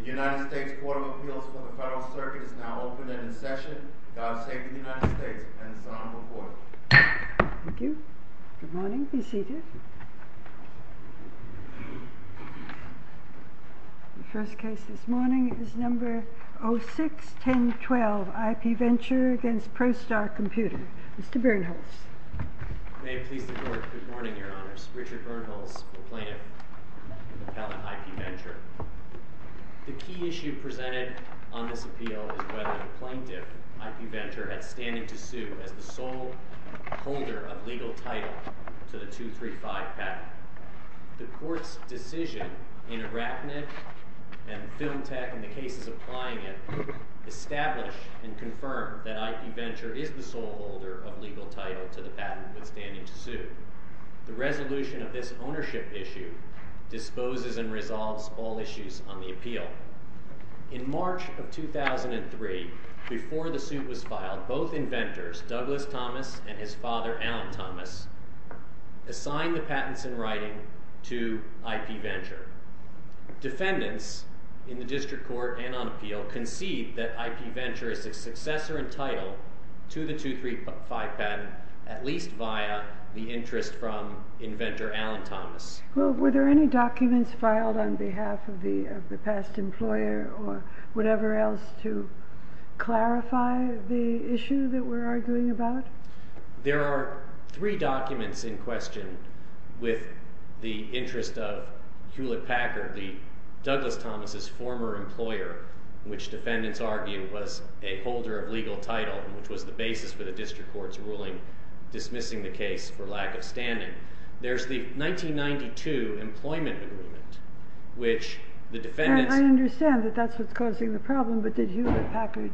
The United States Court of Appeals for the Federal Circuit is now open and in session. God save the United States and its Honorable Court. Thank you. Good morning. Be seated. The first case this morning is number 06-1012, Ipventure v. Prostar Computer. Mr. Bernholz. May it please the Court, good morning, Your Honors. Richard Bernholz, the plaintiff, appellant, Ipventure. The key issue presented on this appeal is whether the plaintiff, Ipventure, had standing to sue as the sole holder of legal title to the 235 patent. The Court's decision in Arachnid and Film Tech and the cases applying it establish and confirm that Ipventure is the sole holder of legal title to the patent withstanding to sue. The resolution of this ownership issue disposes and resolves all issues on the appeal. In March of 2003, before the suit was filed, both inventors, Douglas Thomas and his father, Alan Thomas, assigned the patents in writing to Ipventure. Defendants in the District Court and on appeal concede that Ipventure is the successor in title to the 235 patent, at least via the interest from inventor Alan Thomas. Were there any documents filed on behalf of the past employer or whatever else to clarify the issue that we're arguing about? There are three documents in question with the interest of Hewlett-Packard, Douglas Thomas' former employer, which defendants argue was a holder of legal title, which was the basis for the District Court's ruling dismissing the case for lack of standing. There's the 1992 employment agreement, which the defendants... I understand that that's what's causing the problem, but did Hewlett-Packard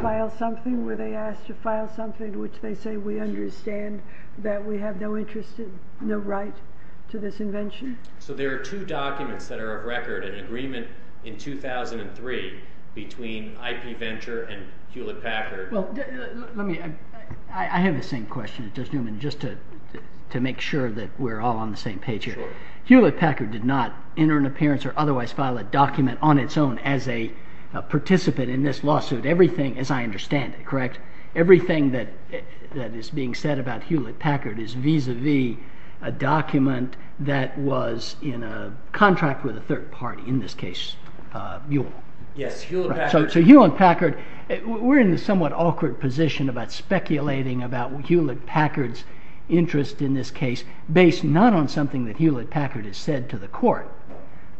file something? Were they asked to file something which they say we understand that we have no interest in, no right to this invention? So there are two documents that are of record, an agreement in 2003 between Ipventure and Hewlett-Packard. I have the same question, Judge Newman, just to make sure that we're all on the same page here. Hewlett-Packard did not enter an appearance or otherwise file a document on its own as a participant in this lawsuit. Everything, as I understand it, correct? Everything that is being said about Hewlett-Packard is vis-à-vis a document that was in a contract with a third party, in this case, Mule. Yes, Hewlett-Packard... So Hewlett-Packard, we're in a somewhat awkward position about speculating about Hewlett-Packard's interest in this case, based not on something that Hewlett-Packard has said to the court,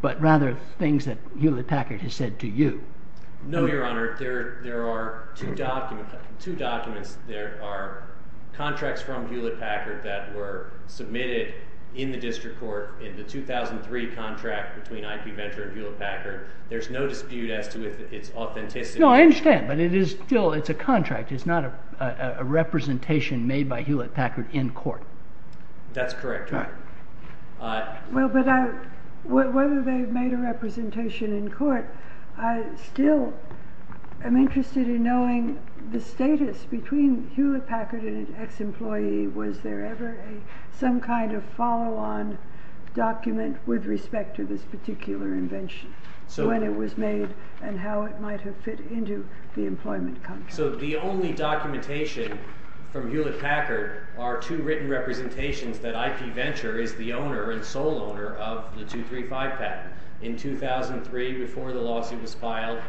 but rather things that Hewlett-Packard has said to you. No, Your Honor, there are two documents. There are contracts from Hewlett-Packard that were submitted in the District Court in the 2003 contract between Ipventure and Hewlett-Packard. There's no dispute as to its authenticity. No, I understand, but it's a contract. It's not a representation made by Hewlett-Packard in court. That's correct, Your Honor. Well, but whether they've made a representation in court, I still am interested in knowing the status between Hewlett-Packard and an ex-employee. Was there ever some kind of follow-on document with respect to this particular invention, when it was made, and how it might have fit into the employment contract? So the only documentation from Hewlett-Packard are two written representations that Ipventure is the owner and sole owner of the 235 patent. In 2003, before the lawsuit was filed,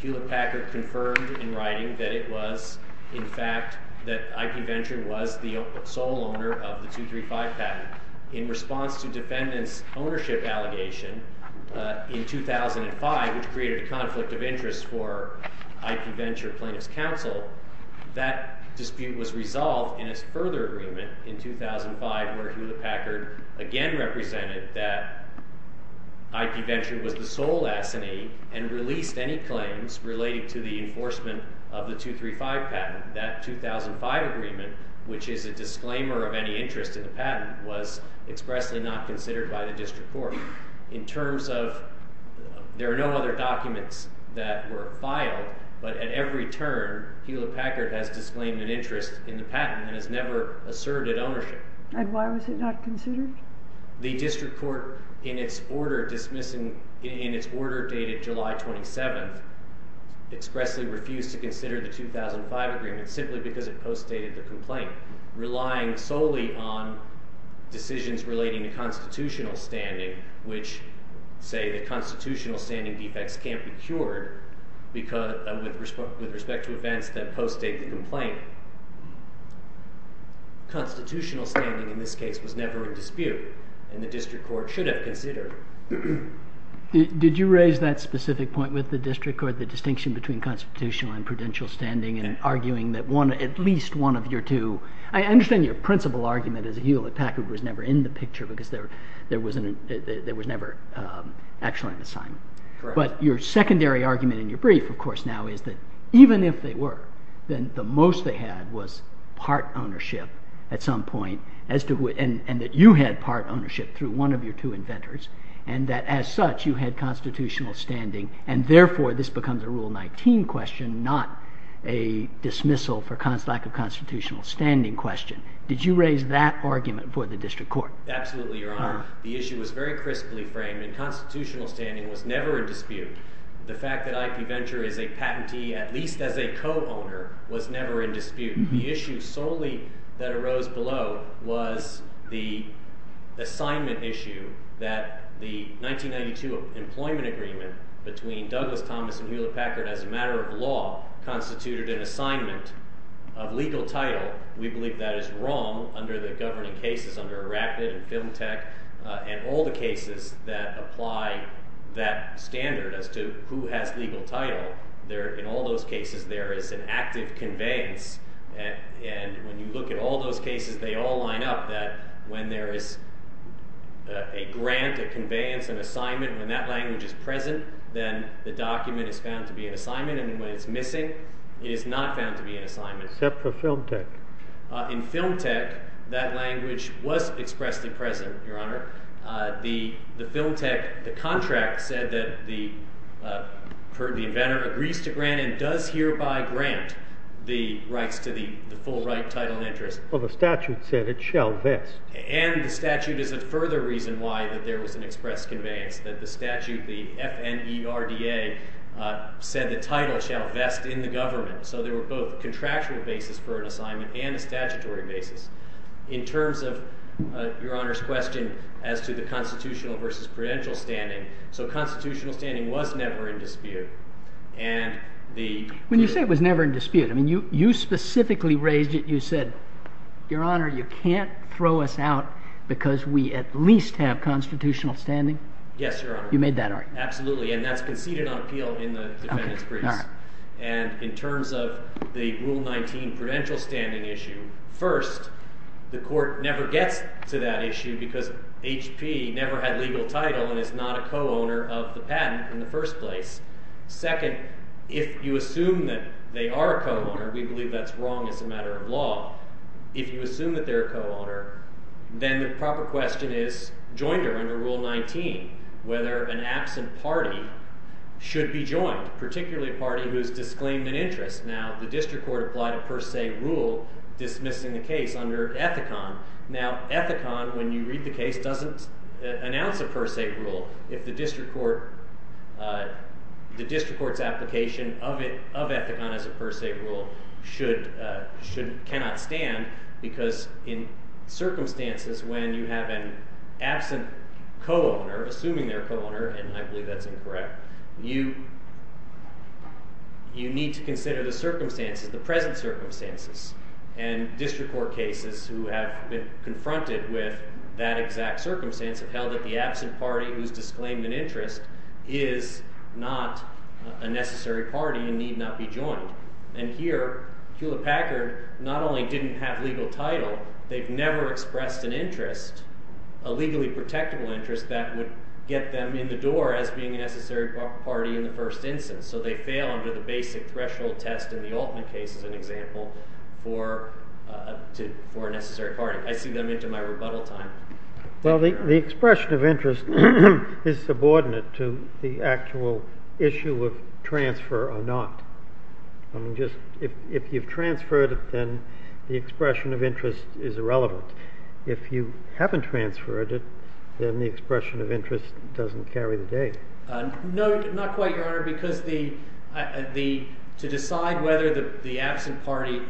Hewlett-Packard confirmed in writing that it was, in fact, that Ipventure was the sole owner of the 235 patent. In response to defendants' ownership allegation in 2005, which created a conflict of interest for Ipventure Plaintiffs' Counsel, that dispute was resolved in a further agreement in 2005, where Hewlett-Packard again represented that Ipventure was the sole S&E and released any claims related to the enforcement of the 235 patent. That 2005 agreement, which is a disclaimer of any interest in the patent, was expressly not considered by the district court. There are no other documents that were filed, but at every turn, Hewlett-Packard has disclaimed an interest in the patent and has never asserted ownership. And why was it not considered? The district court, in its order dated July 27, expressly refused to consider the 2005 agreement simply because it postdated the complaint, relying solely on decisions relating to constitutional standing, which say that constitutional standing defects can't be cured with respect to events that postdate the complaint. Constitutional standing, in this case, was never a dispute, and the district court should have considered it. Did you raise that specific point with the district court, the distinction between constitutional and prudential standing, and arguing that at least one of your two… I understand your principal argument is that Hewlett-Packard was never in the picture because there was never actually an assignment. But your secondary argument in your brief, of course, now is that even if they were, then the most they had was part ownership at some point, and that you had part ownership through one of your two inventors, and that as such you had constitutional standing, and therefore this becomes a Rule 19 question, not a dismissal for lack of constitutional standing question. Did you raise that argument for the district court? Absolutely, Your Honor. The issue was very crisply framed, and constitutional standing was never a dispute. The fact that IP Venture is a patentee, at least as a co-owner, was never in dispute. The issue solely that arose below was the assignment issue that the 1992 employment agreement between Douglas Thomas and Hewlett-Packard as a matter of law constituted an assignment of legal title. We believe that is wrong under the governing cases under ERACTED and Film Tech and all the cases that apply that standard as to who has legal title. In all those cases there is an active conveyance, and when you look at all those cases, they all line up that when there is a grant, a conveyance, an assignment, when that language is present, then the document is found to be an assignment, and when it's missing, it is not found to be an assignment. Except for Film Tech. In Film Tech, that language was expressly present, Your Honor. The contract said that the inventor agrees to grant and does hereby grant the rights to the full right, title, and interest. Well, the statute said it shall vest. And the statute is a further reason why there was an express conveyance, that the statute, the FNERDA, said the title shall vest in the government. So there were both contractual basis for an assignment and a statutory basis. In terms of Your Honor's question as to the constitutional versus credential standing, so constitutional standing was never in dispute. When you say it was never in dispute, you specifically raised it, you said, Your Honor, you can't throw us out because we at least have constitutional standing? Yes, Your Honor. You made that argument. Absolutely, and that's conceded on appeal in the defendant's briefs. And in terms of the Rule 19 credential standing issue, first, the court never gets to that issue because HP never had legal title and is not a co-owner of the patent in the first place. Second, if you assume that they are a co-owner, we believe that's wrong as a matter of law. If you assume that they're a co-owner, then the proper question is, joined her under Rule 19, whether an absent party should be joined, particularly a party whose disclaimed an interest. Now, the district court applied a per se rule dismissing the case under Ethicon. Now, Ethicon, when you read the case, doesn't announce a per se rule if the district court's application of Ethicon as a per se rule cannot stand because in circumstances when you have an absent co-owner, assuming they're a co-owner, and I believe that's incorrect, you need to consider the circumstances, the present circumstances. And district court cases who have been confronted with that exact circumstance have held that the absent party whose disclaimed an interest is not a necessary party and need not be joined. And here, Hewlett-Packard not only didn't have legal title, they've never expressed an interest, a legally protectable interest that would get them in the door as being a necessary party in the first instance. So they fail under the basic threshold test in the Altman case, as an example, for a necessary party. I see them into my rebuttal time. Well, the expression of interest is subordinate to the actual issue of transfer or not. If you've transferred it, then the expression of interest is irrelevant. If you haven't transferred it, then the expression of interest doesn't carry the day. No, not quite, Your Honor, because to decide whether the absent party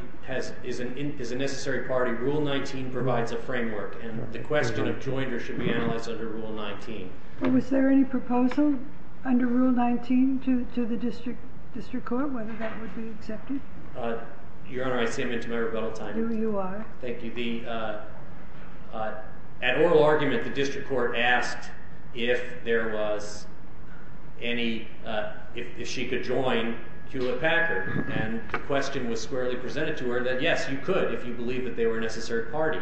is a necessary party, rule 19 provides a framework. And the question of joiner should be analyzed under rule 19. Well, was there any proposal under rule 19 to the district court whether that would be accepted? Your Honor, I see them into my rebuttal time. You are. Thank you. At oral argument, the district court asked if there was any, if she could join Hewlett-Packard. And the question was squarely presented to her that, yes, you could if you believe that they were a necessary party.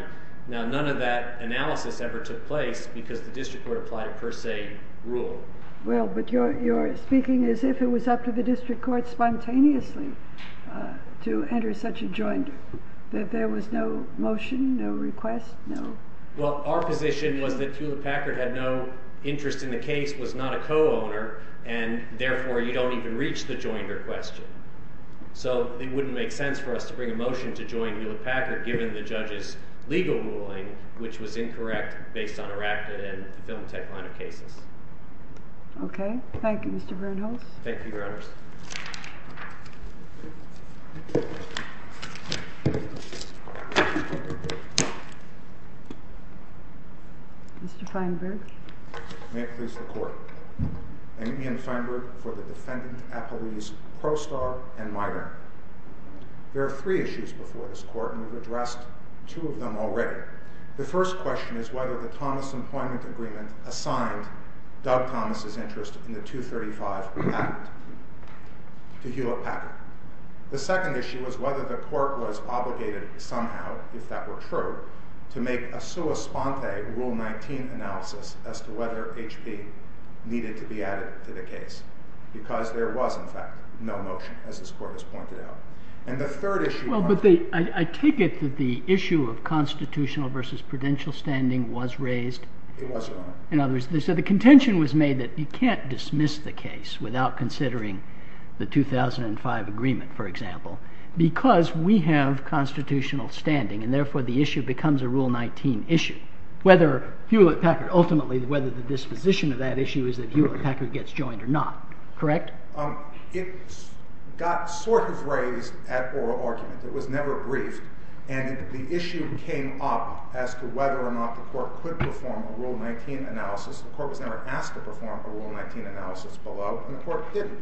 Now, none of that analysis ever took place because the district court applied a per se rule. Well, but you're speaking as if it was up to the district court spontaneously to enter such a joiner, that there was no motion, no request, no? Well, our position was that Hewlett-Packard had no interest in the case, was not a co-owner, and therefore you don't even reach the joiner question. So it wouldn't make sense for us to bring a motion to join Hewlett-Packard given the judge's legal ruling, which was incorrect based on ERACTA and the Film Tech line of cases. Okay. Thank you, Mr. Bernholz. Thank you, Your Honors. Mr. Feinberg. May it please the Court. I'm Ian Feinberg for the defendant, Apolise Prostar, and minor. There are three issues before this Court, and we've addressed two of them already. The first question is whether the Thomas Employment Agreement assigned Doug Thomas' interest in the 235 Act to Hewlett-Packard. The second issue is whether the Court was obligated somehow, if that were true, to make a sua sponte Rule 19 analysis as to whether HP needed to be added to the case. Because there was, in fact, no motion, as this Court has pointed out. And the third issue— Well, but I take it that the issue of constitutional versus prudential standing was raised. It was, Your Honor. In other words, they said the contention was made that you can't dismiss the case without considering the 2005 agreement, for example, because we have constitutional standing. And therefore, the issue becomes a Rule 19 issue, whether Hewlett-Packard—ultimately, whether the disposition of that issue is that Hewlett-Packard gets joined or not. Correct? It got sort of raised at oral argument. It was never briefed. And the issue came up as to whether or not the Court could perform a Rule 19 analysis. The Court was never asked to perform a Rule 19 analysis below, and the Court didn't.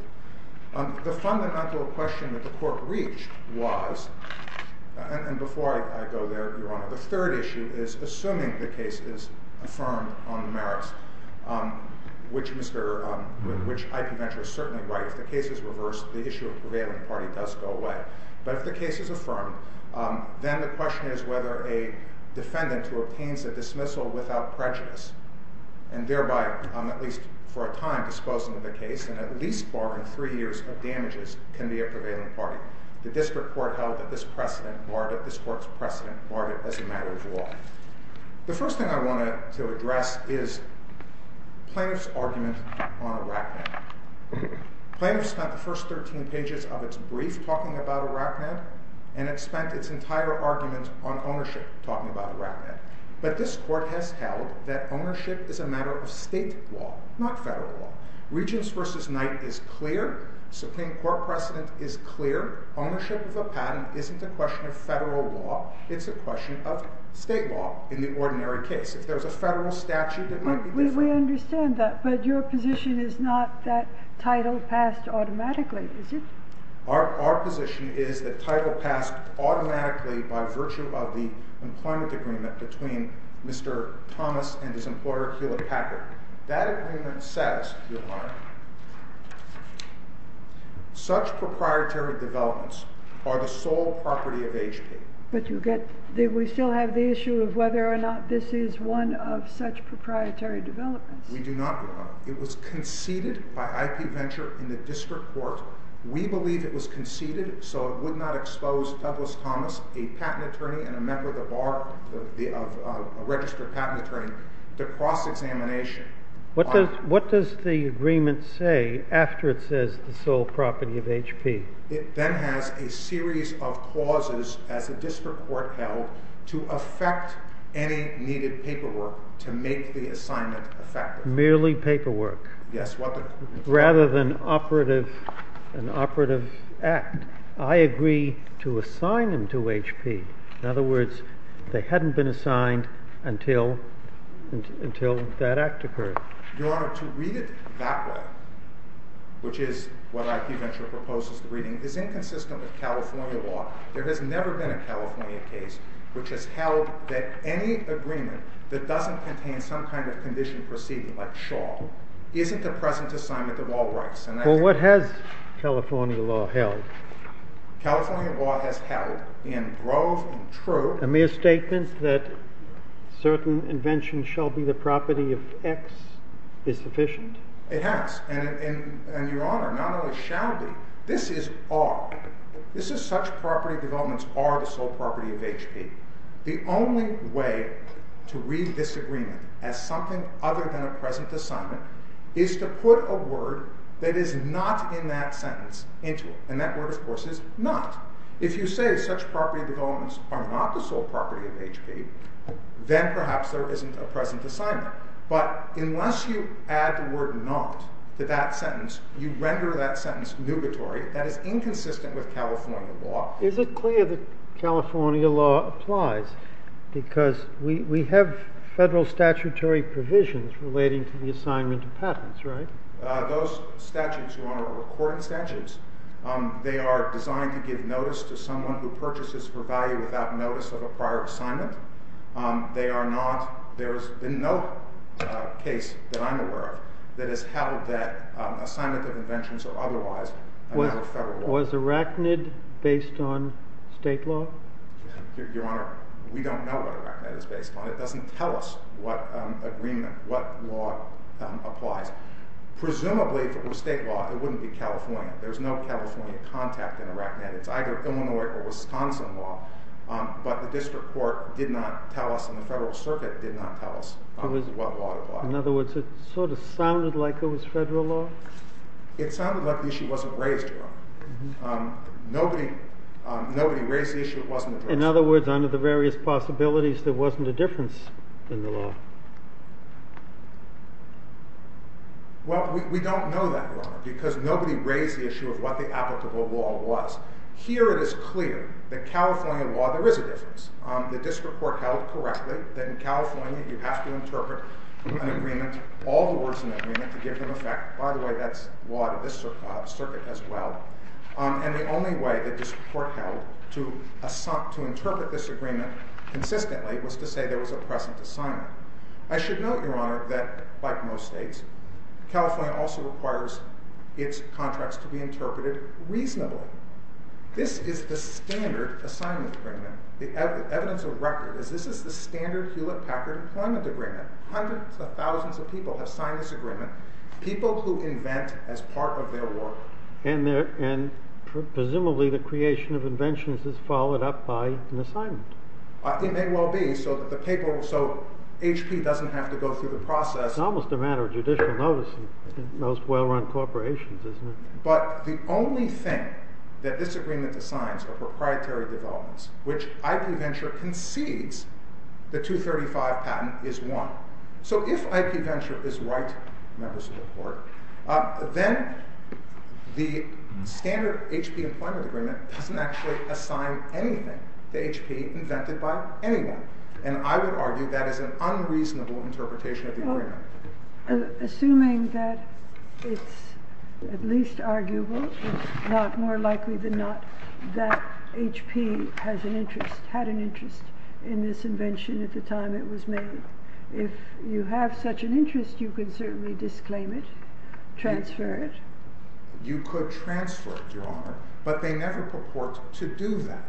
The fundamental question that the Court reached was—and before I go there, Your Honor, the third issue is assuming the case is affirmed on the merits, which Mr.—which I can venture is certainly right. If the case is reversed, the issue of prevailing party does go away. But if the case is affirmed, then the question is whether a defendant who obtains a dismissal without prejudice and thereby, at least for a time, disposing of the case, and at least barring three years of damages, can be a prevailing party. The District Court held that this precedent barred it. This Court's precedent barred it as a matter of law. The first thing I wanted to address is plaintiff's argument on Iraq. Plaintiff spent the first 13 pages of its brief talking about Iraq, and it spent its entire argument on ownership talking about Iraq. But this Court has held that ownership is a matter of state law, not federal law. Regents v. Knight is clear. Supreme Court precedent is clear. Ownership of a patent isn't a question of federal law. It's a question of state law in the ordinary case. If there's a federal statute, it might be different. We understand that, but your position is not that title passed automatically, is it? Our position is that title passed automatically by virtue of the employment agreement between Mr. Thomas and his employer, Hewlett Packard. That agreement says, Your Honor, such proprietary developments are the sole property of HP. But we still have the issue of whether or not this is one of such proprietary developments. We do not. It was conceded by IP Venture in the District Court. We believe it was conceded so it would not expose Douglas Thomas, a patent attorney and a member of the bar, a registered patent attorney, to cross-examination. What does the agreement say after it says the sole property of HP? It then has a series of clauses, as the District Court held, to affect any needed paperwork to make the assignment effective. Merely paperwork? Yes. Rather than an operative act. I agree to assign him to HP. In other words, they hadn't been assigned until that act occurred. Your Honor, to read it that way, which is what IP Venture proposes to read, is inconsistent with California law. There has never been a California case which has held that any agreement that doesn't contain some kind of condition proceeding, like Shaw, isn't a present assignment of all rights. Well, what has California law held? California law has held, in grove and true— Is sufficient? It has. And, Your Honor, not only shall be, this is are. This is such property developments are the sole property of HP. The only way to read this agreement as something other than a present assignment is to put a word that is not in that sentence into it. And that word, of course, is not. If you say such property developments are not the sole property of HP, then perhaps there isn't a present assignment. But unless you add the word not to that sentence, you render that sentence nubitory. That is inconsistent with California law. Is it clear that California law applies? Because we have federal statutory provisions relating to the assignment of patents, right? Those statutes, Your Honor, are court instances. They are designed to give notice to someone who purchases for value without notice of a prior assignment. They are not—there's been no case that I'm aware of that has held that assignment of inventions are otherwise a matter of federal law. Was Arachnid based on state law? Your Honor, we don't know what Arachnid is based on. It doesn't tell us what agreement, what law applies. Presumably, if it was state law, it wouldn't be California. There's no California contact in Arachnid. It's either Illinois or Wisconsin law. But the district court did not tell us, and the federal circuit did not tell us what law applies. In other words, it sort of sounded like it was federal law? It sounded like the issue wasn't raised, Your Honor. Nobody raised the issue. It wasn't addressed. In other words, under the various possibilities, there wasn't a difference in the law. Well, we don't know that, Your Honor, because nobody raised the issue of what the applicable law was. Here it is clear that California law, there is a difference. The district court held correctly that in California, you have to interpret an agreement, all the words in the agreement, to give them effect. By the way, that's law to this circuit as well. And the only way that the district court held to interpret this agreement consistently was to say there was a present assignment. I should note, Your Honor, that like most states, California also requires its contracts to be interpreted reasonably. This is the standard assignment agreement. The evidence of record is this is the standard Hewlett-Packard employment agreement. Hundreds of thousands of people have signed this agreement, people who invent as part of their work. And presumably the creation of inventions is followed up by an assignment. It may well be so that the paper will—so HP doesn't have to go through the process. It's almost a matter of judicial notice in most well-run corporations, isn't it? But the only thing that this agreement assigns are proprietary developments, which IP Venture concedes the 235 patent is one. So if IP Venture is right, members of the court, then the standard HP employment agreement doesn't actually assign anything to HP invented by anyone. And I would argue that is an unreasonable interpretation of the agreement. Assuming that it's at least arguable, it's not more likely than not that HP has an interest, had an interest in this invention at the time it was made. If you have such an interest, you could certainly disclaim it, transfer it. You could transfer it, Your Honor, but they never purport to do that.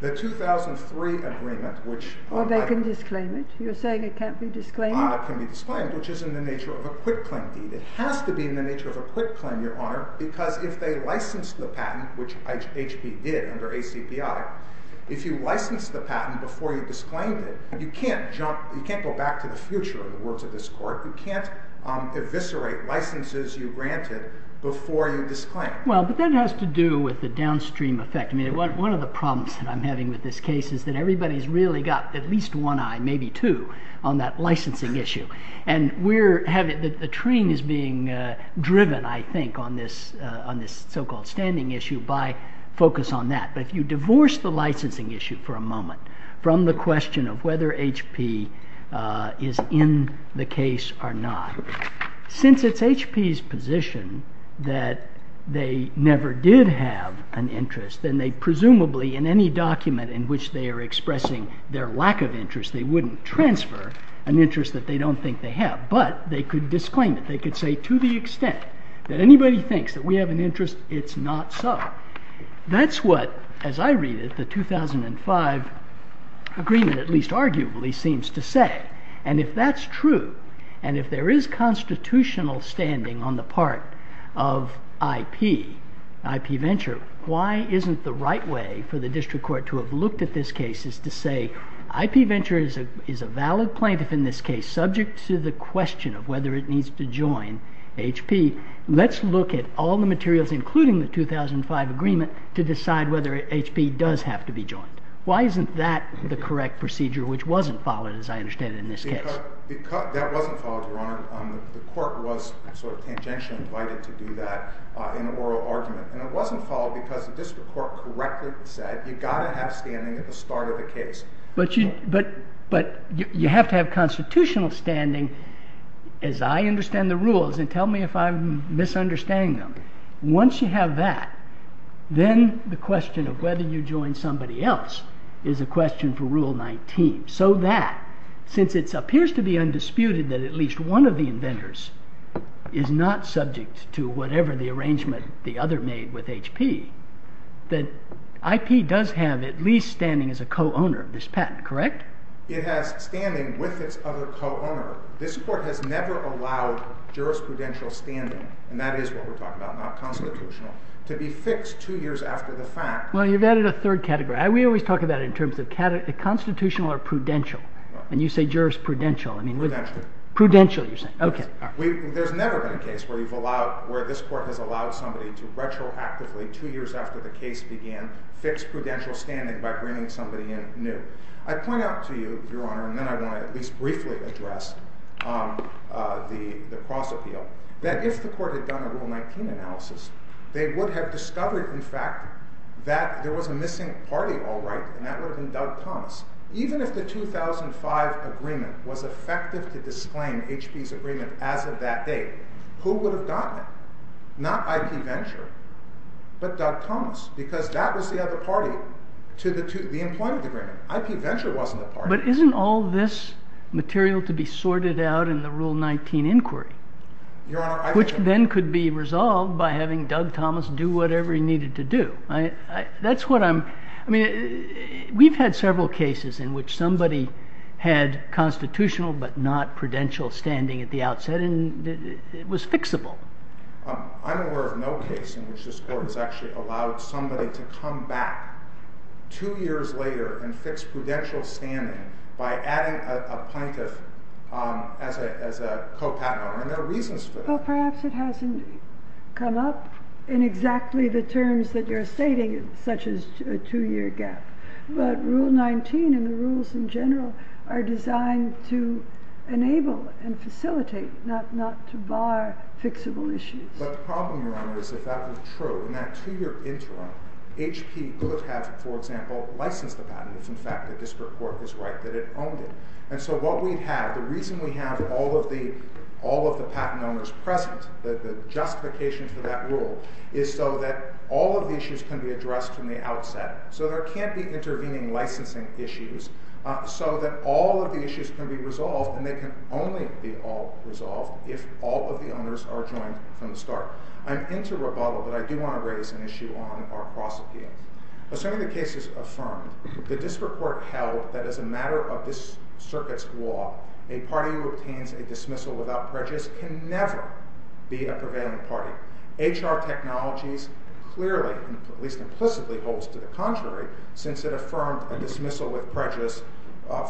The 2003 agreement, which— Well, they can disclaim it. You're saying it can't be disclaimed? It can be disclaimed, which is in the nature of a quitclaim deed. It has to be in the nature of a quitclaim, Your Honor, because if they license the patent, which HP did under ACP I, if you license the patent before you disclaimed it, you can't jump—you can't go back to the future, in the words of this Court. You can't eviscerate licenses you granted before you disclaimed. Well, but that has to do with the downstream effect. I mean, one of the problems that I'm having with this case is that everybody's really got at least one eye, maybe two, on that licensing issue. And we're having—the train is being driven, I think, on this so-called standing issue by focus on that. But if you divorce the licensing issue for a moment from the question of whether HP is in the case or not, since it's HP's position that they never did have an interest, then they presumably, in any document in which they are expressing their lack of interest, they wouldn't transfer an interest that they don't think they have. But they could disclaim it. They could say, to the extent that anybody thinks that we have an interest, it's not so. That's what, as I read it, the 2005 agreement, at least arguably, seems to say. And if that's true, and if there is constitutional standing on the part of IP, IP Venture, why isn't the right way for the district court to have looked at this case is to say, IP Venture is a valid plaintiff in this case, subject to the question of whether it needs to join HP. Let's look at all the materials, including the 2005 agreement, to decide whether HP does have to be joined. Why isn't that the correct procedure, which wasn't followed, as I understand it, in this case? That wasn't followed, Your Honor. The court was sort of tangentially invited to do that in an oral argument. And it wasn't followed because the district court correctly said, you've got to have standing at the start of the case. But you have to have constitutional standing, as I understand the rules. And tell me if I'm misunderstanding them. Once you have that, then the question of whether you join somebody else is a question for Rule 19. So that, since it appears to be undisputed that at least one of the inventors is not subject to whatever the arrangement the other made with HP, that IP does have at least standing as a co-owner of this patent, correct? It has standing with its other co-owner. However, this court has never allowed jurisprudential standing, and that is what we're talking about, not constitutional, to be fixed two years after the fact. Well, you've added a third category. We always talk about it in terms of constitutional or prudential. And you say jurisprudential. Prudential. Prudential, you're saying. OK. There's never been a case where this court has allowed somebody to retroactively, two years after the case began, fix prudential standing by bringing somebody in new. I point out to you, Your Honor, and then I want to at least briefly address the cross-appeal, that if the court had done a Rule 19 analysis, they would have discovered, in fact, that there was a missing party, all right, and that would have been Doug Thomas. Even if the 2005 agreement was effective to disclaim HP's agreement as of that date, who would have gotten it? Not IP Venture, but Doug Thomas, because that was the other party to the employment agreement. IP Venture wasn't a party. But isn't all this material to be sorted out in the Rule 19 inquiry, which then could be resolved by having Doug Thomas do whatever he needed to do? That's what I'm, I mean, we've had several cases in which somebody had constitutional but not prudential standing at the outset, and it was fixable. I'm aware of no case in which this court has actually allowed somebody to come back two years later and fix prudential standing by adding a plaintiff as a co-patent. I mean, there are reasons for that. Well, perhaps it hasn't come up in exactly the terms that you're stating, such as a two-year gap. But Rule 19 and the rules in general are designed to enable and facilitate, not to bar fixable issues. But the problem, Your Honor, is if that were true, in that two-year interim, HP could have, for example, licensed a patent if, in fact, the district court was right that it owned it. And so what we'd have, the reason we have all of the patent owners present, the justification for that rule, is so that all of the issues can be addressed from the outset. So there can't be intervening licensing issues, so that all of the issues can be resolved, and they can only be resolved if all of the owners are joined from the start. I'm into rebuttal, but I do want to raise an issue on our cross-appeal. Assuming the case is affirmed, the district court held that as a matter of this circuit's law, a party who obtains a dismissal without prejudice can never be a prevailing party. HR Technologies clearly, at least implicitly, holds to the contrary, since it affirmed a dismissal with prejudice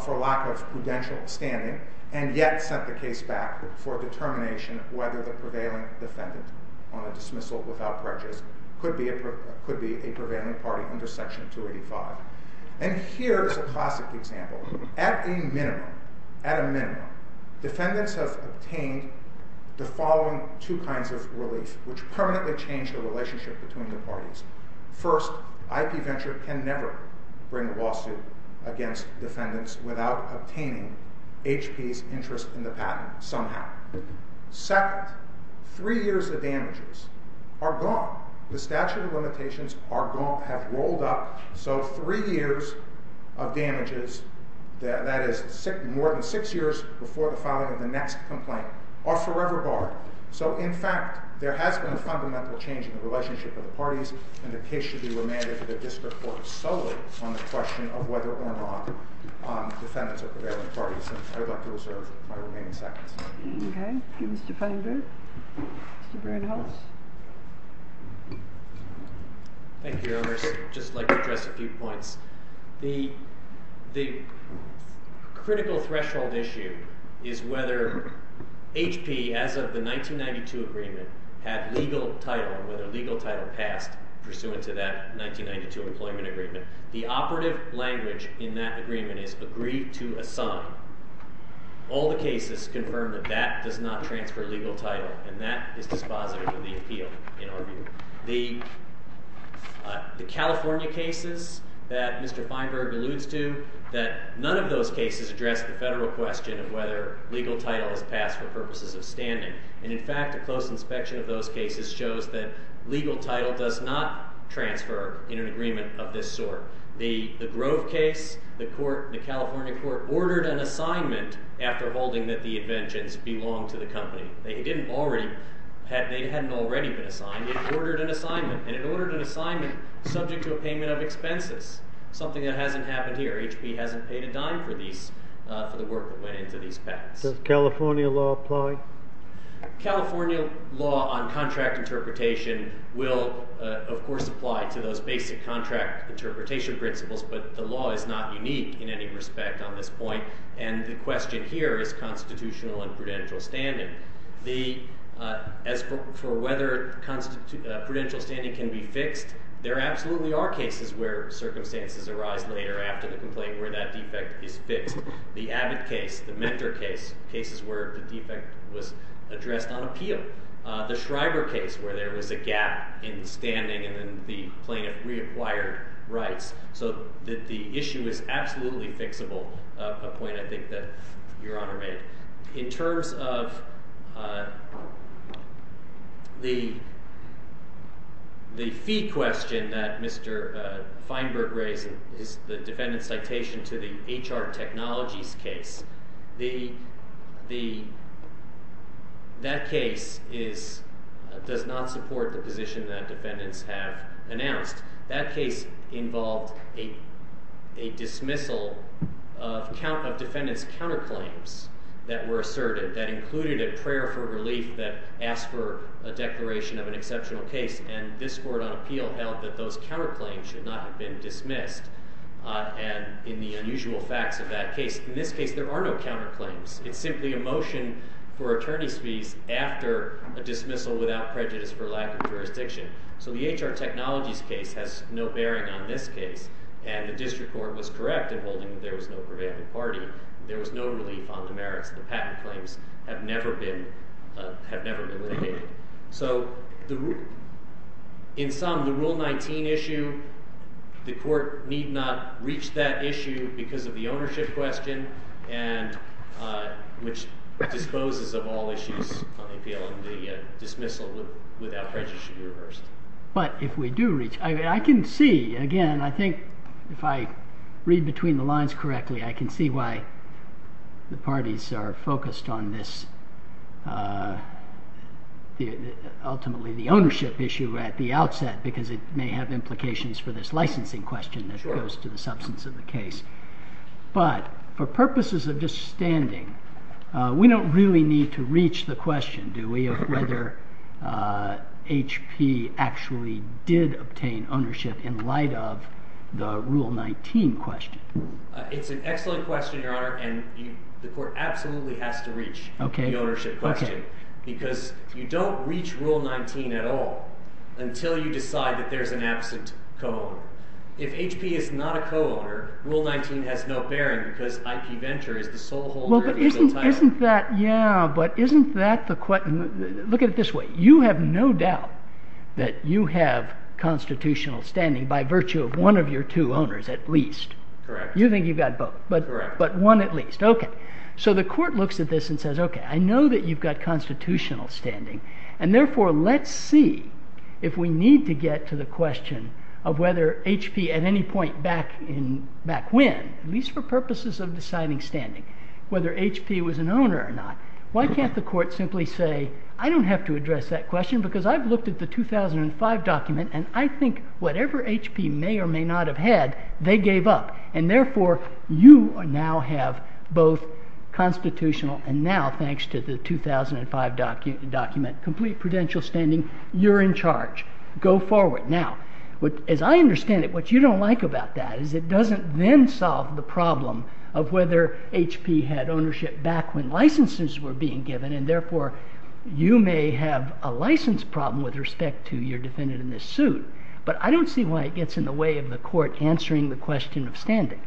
for lack of prudential standing, and yet sent the case back for determination whether the prevailing defendant on a dismissal without prejudice could be a prevailing party under Section 285. And here is a classic example. At a minimum, defendants have obtained the following two kinds of relief, which permanently change the relationship between the parties. First, IP Venture can never bring a lawsuit against defendants without obtaining HP's interest in the patent, somehow. Second, three years of damages are gone. The statute of limitations are gone, have rolled up, so three years of damages, that is more than six years before the filing of the next complaint, are forever barred. So, in fact, there has been a fundamental change in the relationship of the parties, and the case should be remanded to the district court solely on the question of whether or not defendants are prevailing parties. And I would like to reserve my remaining seconds. Okay. Mr. Feinberg? Mr. Bernholz? Thank you, Your Honor. I'd just like to address a few points. The critical threshold issue is whether HP, as of the 1992 agreement, had legal title, and whether legal title passed pursuant to that 1992 employment agreement. The operative language in that agreement is, agree to assign. All the cases confirm that that does not transfer legal title, and that is dispositive of the appeal in our view. The California cases that Mr. Feinberg alludes to, that none of those cases address the federal question of whether legal title is passed for purposes of standing. And, in fact, a close inspection of those cases shows that legal title does not transfer in an agreement of this sort. The Grove case, the California court ordered an assignment after holding that the inventions belonged to the company. They hadn't already been assigned. It ordered an assignment, and it ordered an assignment subject to a payment of expenses, something that hasn't happened here. HP hasn't paid a dime for the work that went into these patents. Does California law apply? California law on contract interpretation will, of course, apply to those basic contract interpretation principles, but the law is not unique in any respect on this point. And the question here is constitutional and prudential standing. As for whether prudential standing can be fixed, there absolutely are cases where circumstances arise later after the complaint where that defect is fixed. The Abbott case, the Mentor case, cases where the defect was addressed on appeal. The Schreiber case where there was a gap in standing and then the plaintiff reacquired rights. So the issue is absolutely fixable, a point I think that Your Honor made. In terms of the fee question that Mr. Feinberg raised, the defendant's citation to the HR Technologies case, that case does not support the position that defendants have announced. That case involved a dismissal of defendants' counterclaims that were asserted that included a prayer for relief that asked for a declaration of an exceptional case. And this Court on Appeal held that those counterclaims should not have been dismissed in the unusual facts of that case. In this case, there are no counterclaims. It's simply a motion for attorney's fees after a dismissal without prejudice for lack of jurisdiction. So the HR Technologies case has no bearing on this case. And the district court was correct in holding that there was no prevailing party. There was no relief on the merits of the patent claims have never been litigated. So in sum, the Rule 19 issue, the court need not reach that issue because of the ownership question, which disposes of all issues on the appeal and the dismissal without prejudice should be reversed. But if we do reach, I can see again, I think if I read between the lines correctly, I can see why the parties are focused on this, ultimately the ownership issue at the outset, because it may have implications for this licensing question that goes to the substance of the case. But for purposes of just standing, we don't really need to reach the question, do we, of whether HP actually did obtain ownership in light of the Rule 19 question. It's an excellent question, Your Honor, and the court absolutely has to reach the ownership question because you don't reach Rule 19 at all until you decide that there's an absent co-owner. If HP is not a co-owner, Rule 19 has no bearing because IP Venture is the sole holder of the title. Yeah, but isn't that the question? Look at it this way. You have no doubt that you have constitutional standing by virtue of one of your two owners at least. Correct. You think you've got both, but one at least. Okay. So the court looks at this and says, okay, I know that you've got constitutional standing, and therefore let's see if we need to get to the question of whether HP at any point back when, at least for purposes of deciding standing, whether HP was an owner or not. Why can't the court simply say, I don't have to address that question because I've looked at the 2005 document, and I think whatever HP may or may not have had, they gave up, and therefore you now have both constitutional and now, thanks to the 2005 document, complete prudential standing. You're in charge. Go forward. As I understand it, what you don't like about that is it doesn't then solve the problem of whether HP had ownership back when licenses were being given, and therefore you may have a license problem with respect to your defendant in this suit, but I don't see why it gets in the way of the court answering the question of standing.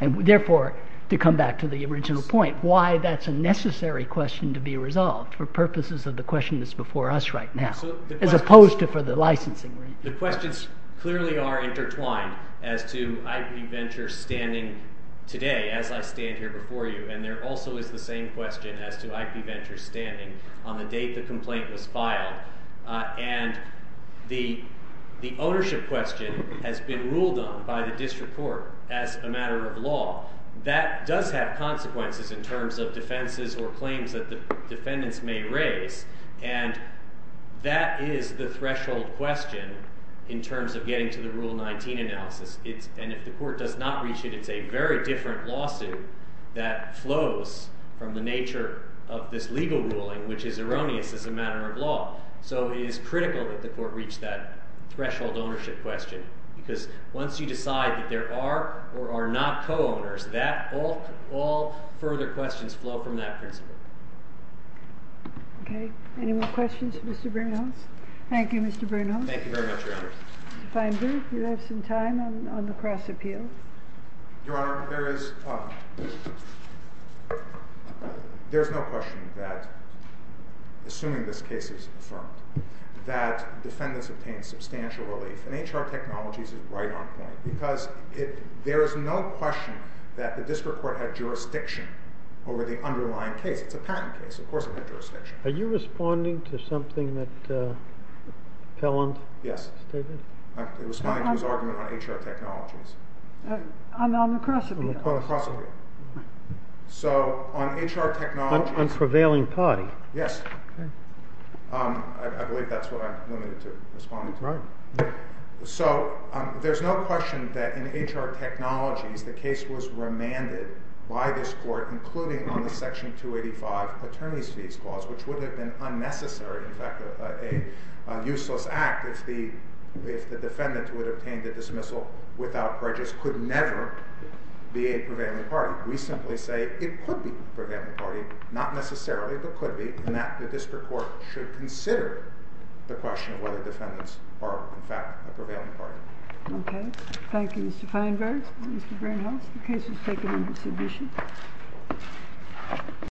Therefore, to come back to the original point, why that's a necessary question to be resolved for purposes of the question that's before us right now, as opposed to for the licensing. The questions clearly are intertwined as to IP Venture standing today, as I stand here before you, and there also is the same question as to IP Venture standing on the date the complaint was filed. And the ownership question has been ruled on by the district court as a matter of law. That does have consequences in terms of defenses or claims that the defendants may raise, and that is the threshold question in terms of getting to the Rule 19 analysis. And if the court does not reach it, it's a very different lawsuit that flows from the nature of this legal ruling, which is erroneous as a matter of law. So it is critical that the court reach that threshold ownership question, because once you decide that there are or are not co-owners, all further questions flow from that principle. Okay. Any more questions for Mr. Bernholz? Thank you, Mr. Bernholz. Thank you very much, Your Honor. Mr. Feinberg, do you have some time on the cross-appeal? Your Honor, there is no question that, assuming this case is affirmed, that defendants obtain substantial relief. And HR Technologies is right on point, because there is no question that the district court had jurisdiction over the underlying case. It's a patent case. Of course it had jurisdiction. Are you responding to something that Pelland stated? I'm responding to his argument on HR Technologies. On the cross-appeal. On the cross-appeal. So on HR Technologies— On prevailing party. Yes. Okay. I believe that's what I'm limited to responding to. Right. So there's no question that in HR Technologies the case was remanded by this court, including on the Section 285 attorney's fees clause, which would have been unnecessary, in fact a useless act, if the defendant who had obtained a dismissal without prejudice could never be a prevailing party. We simply say it could be a prevailing party. Not necessarily, but could be. And that the district court should consider the question of whether defendants are, in fact, a prevailing party. Okay. Thank you, Mr. Feinberg and Mr. Greenhouse. The case is taken into submission.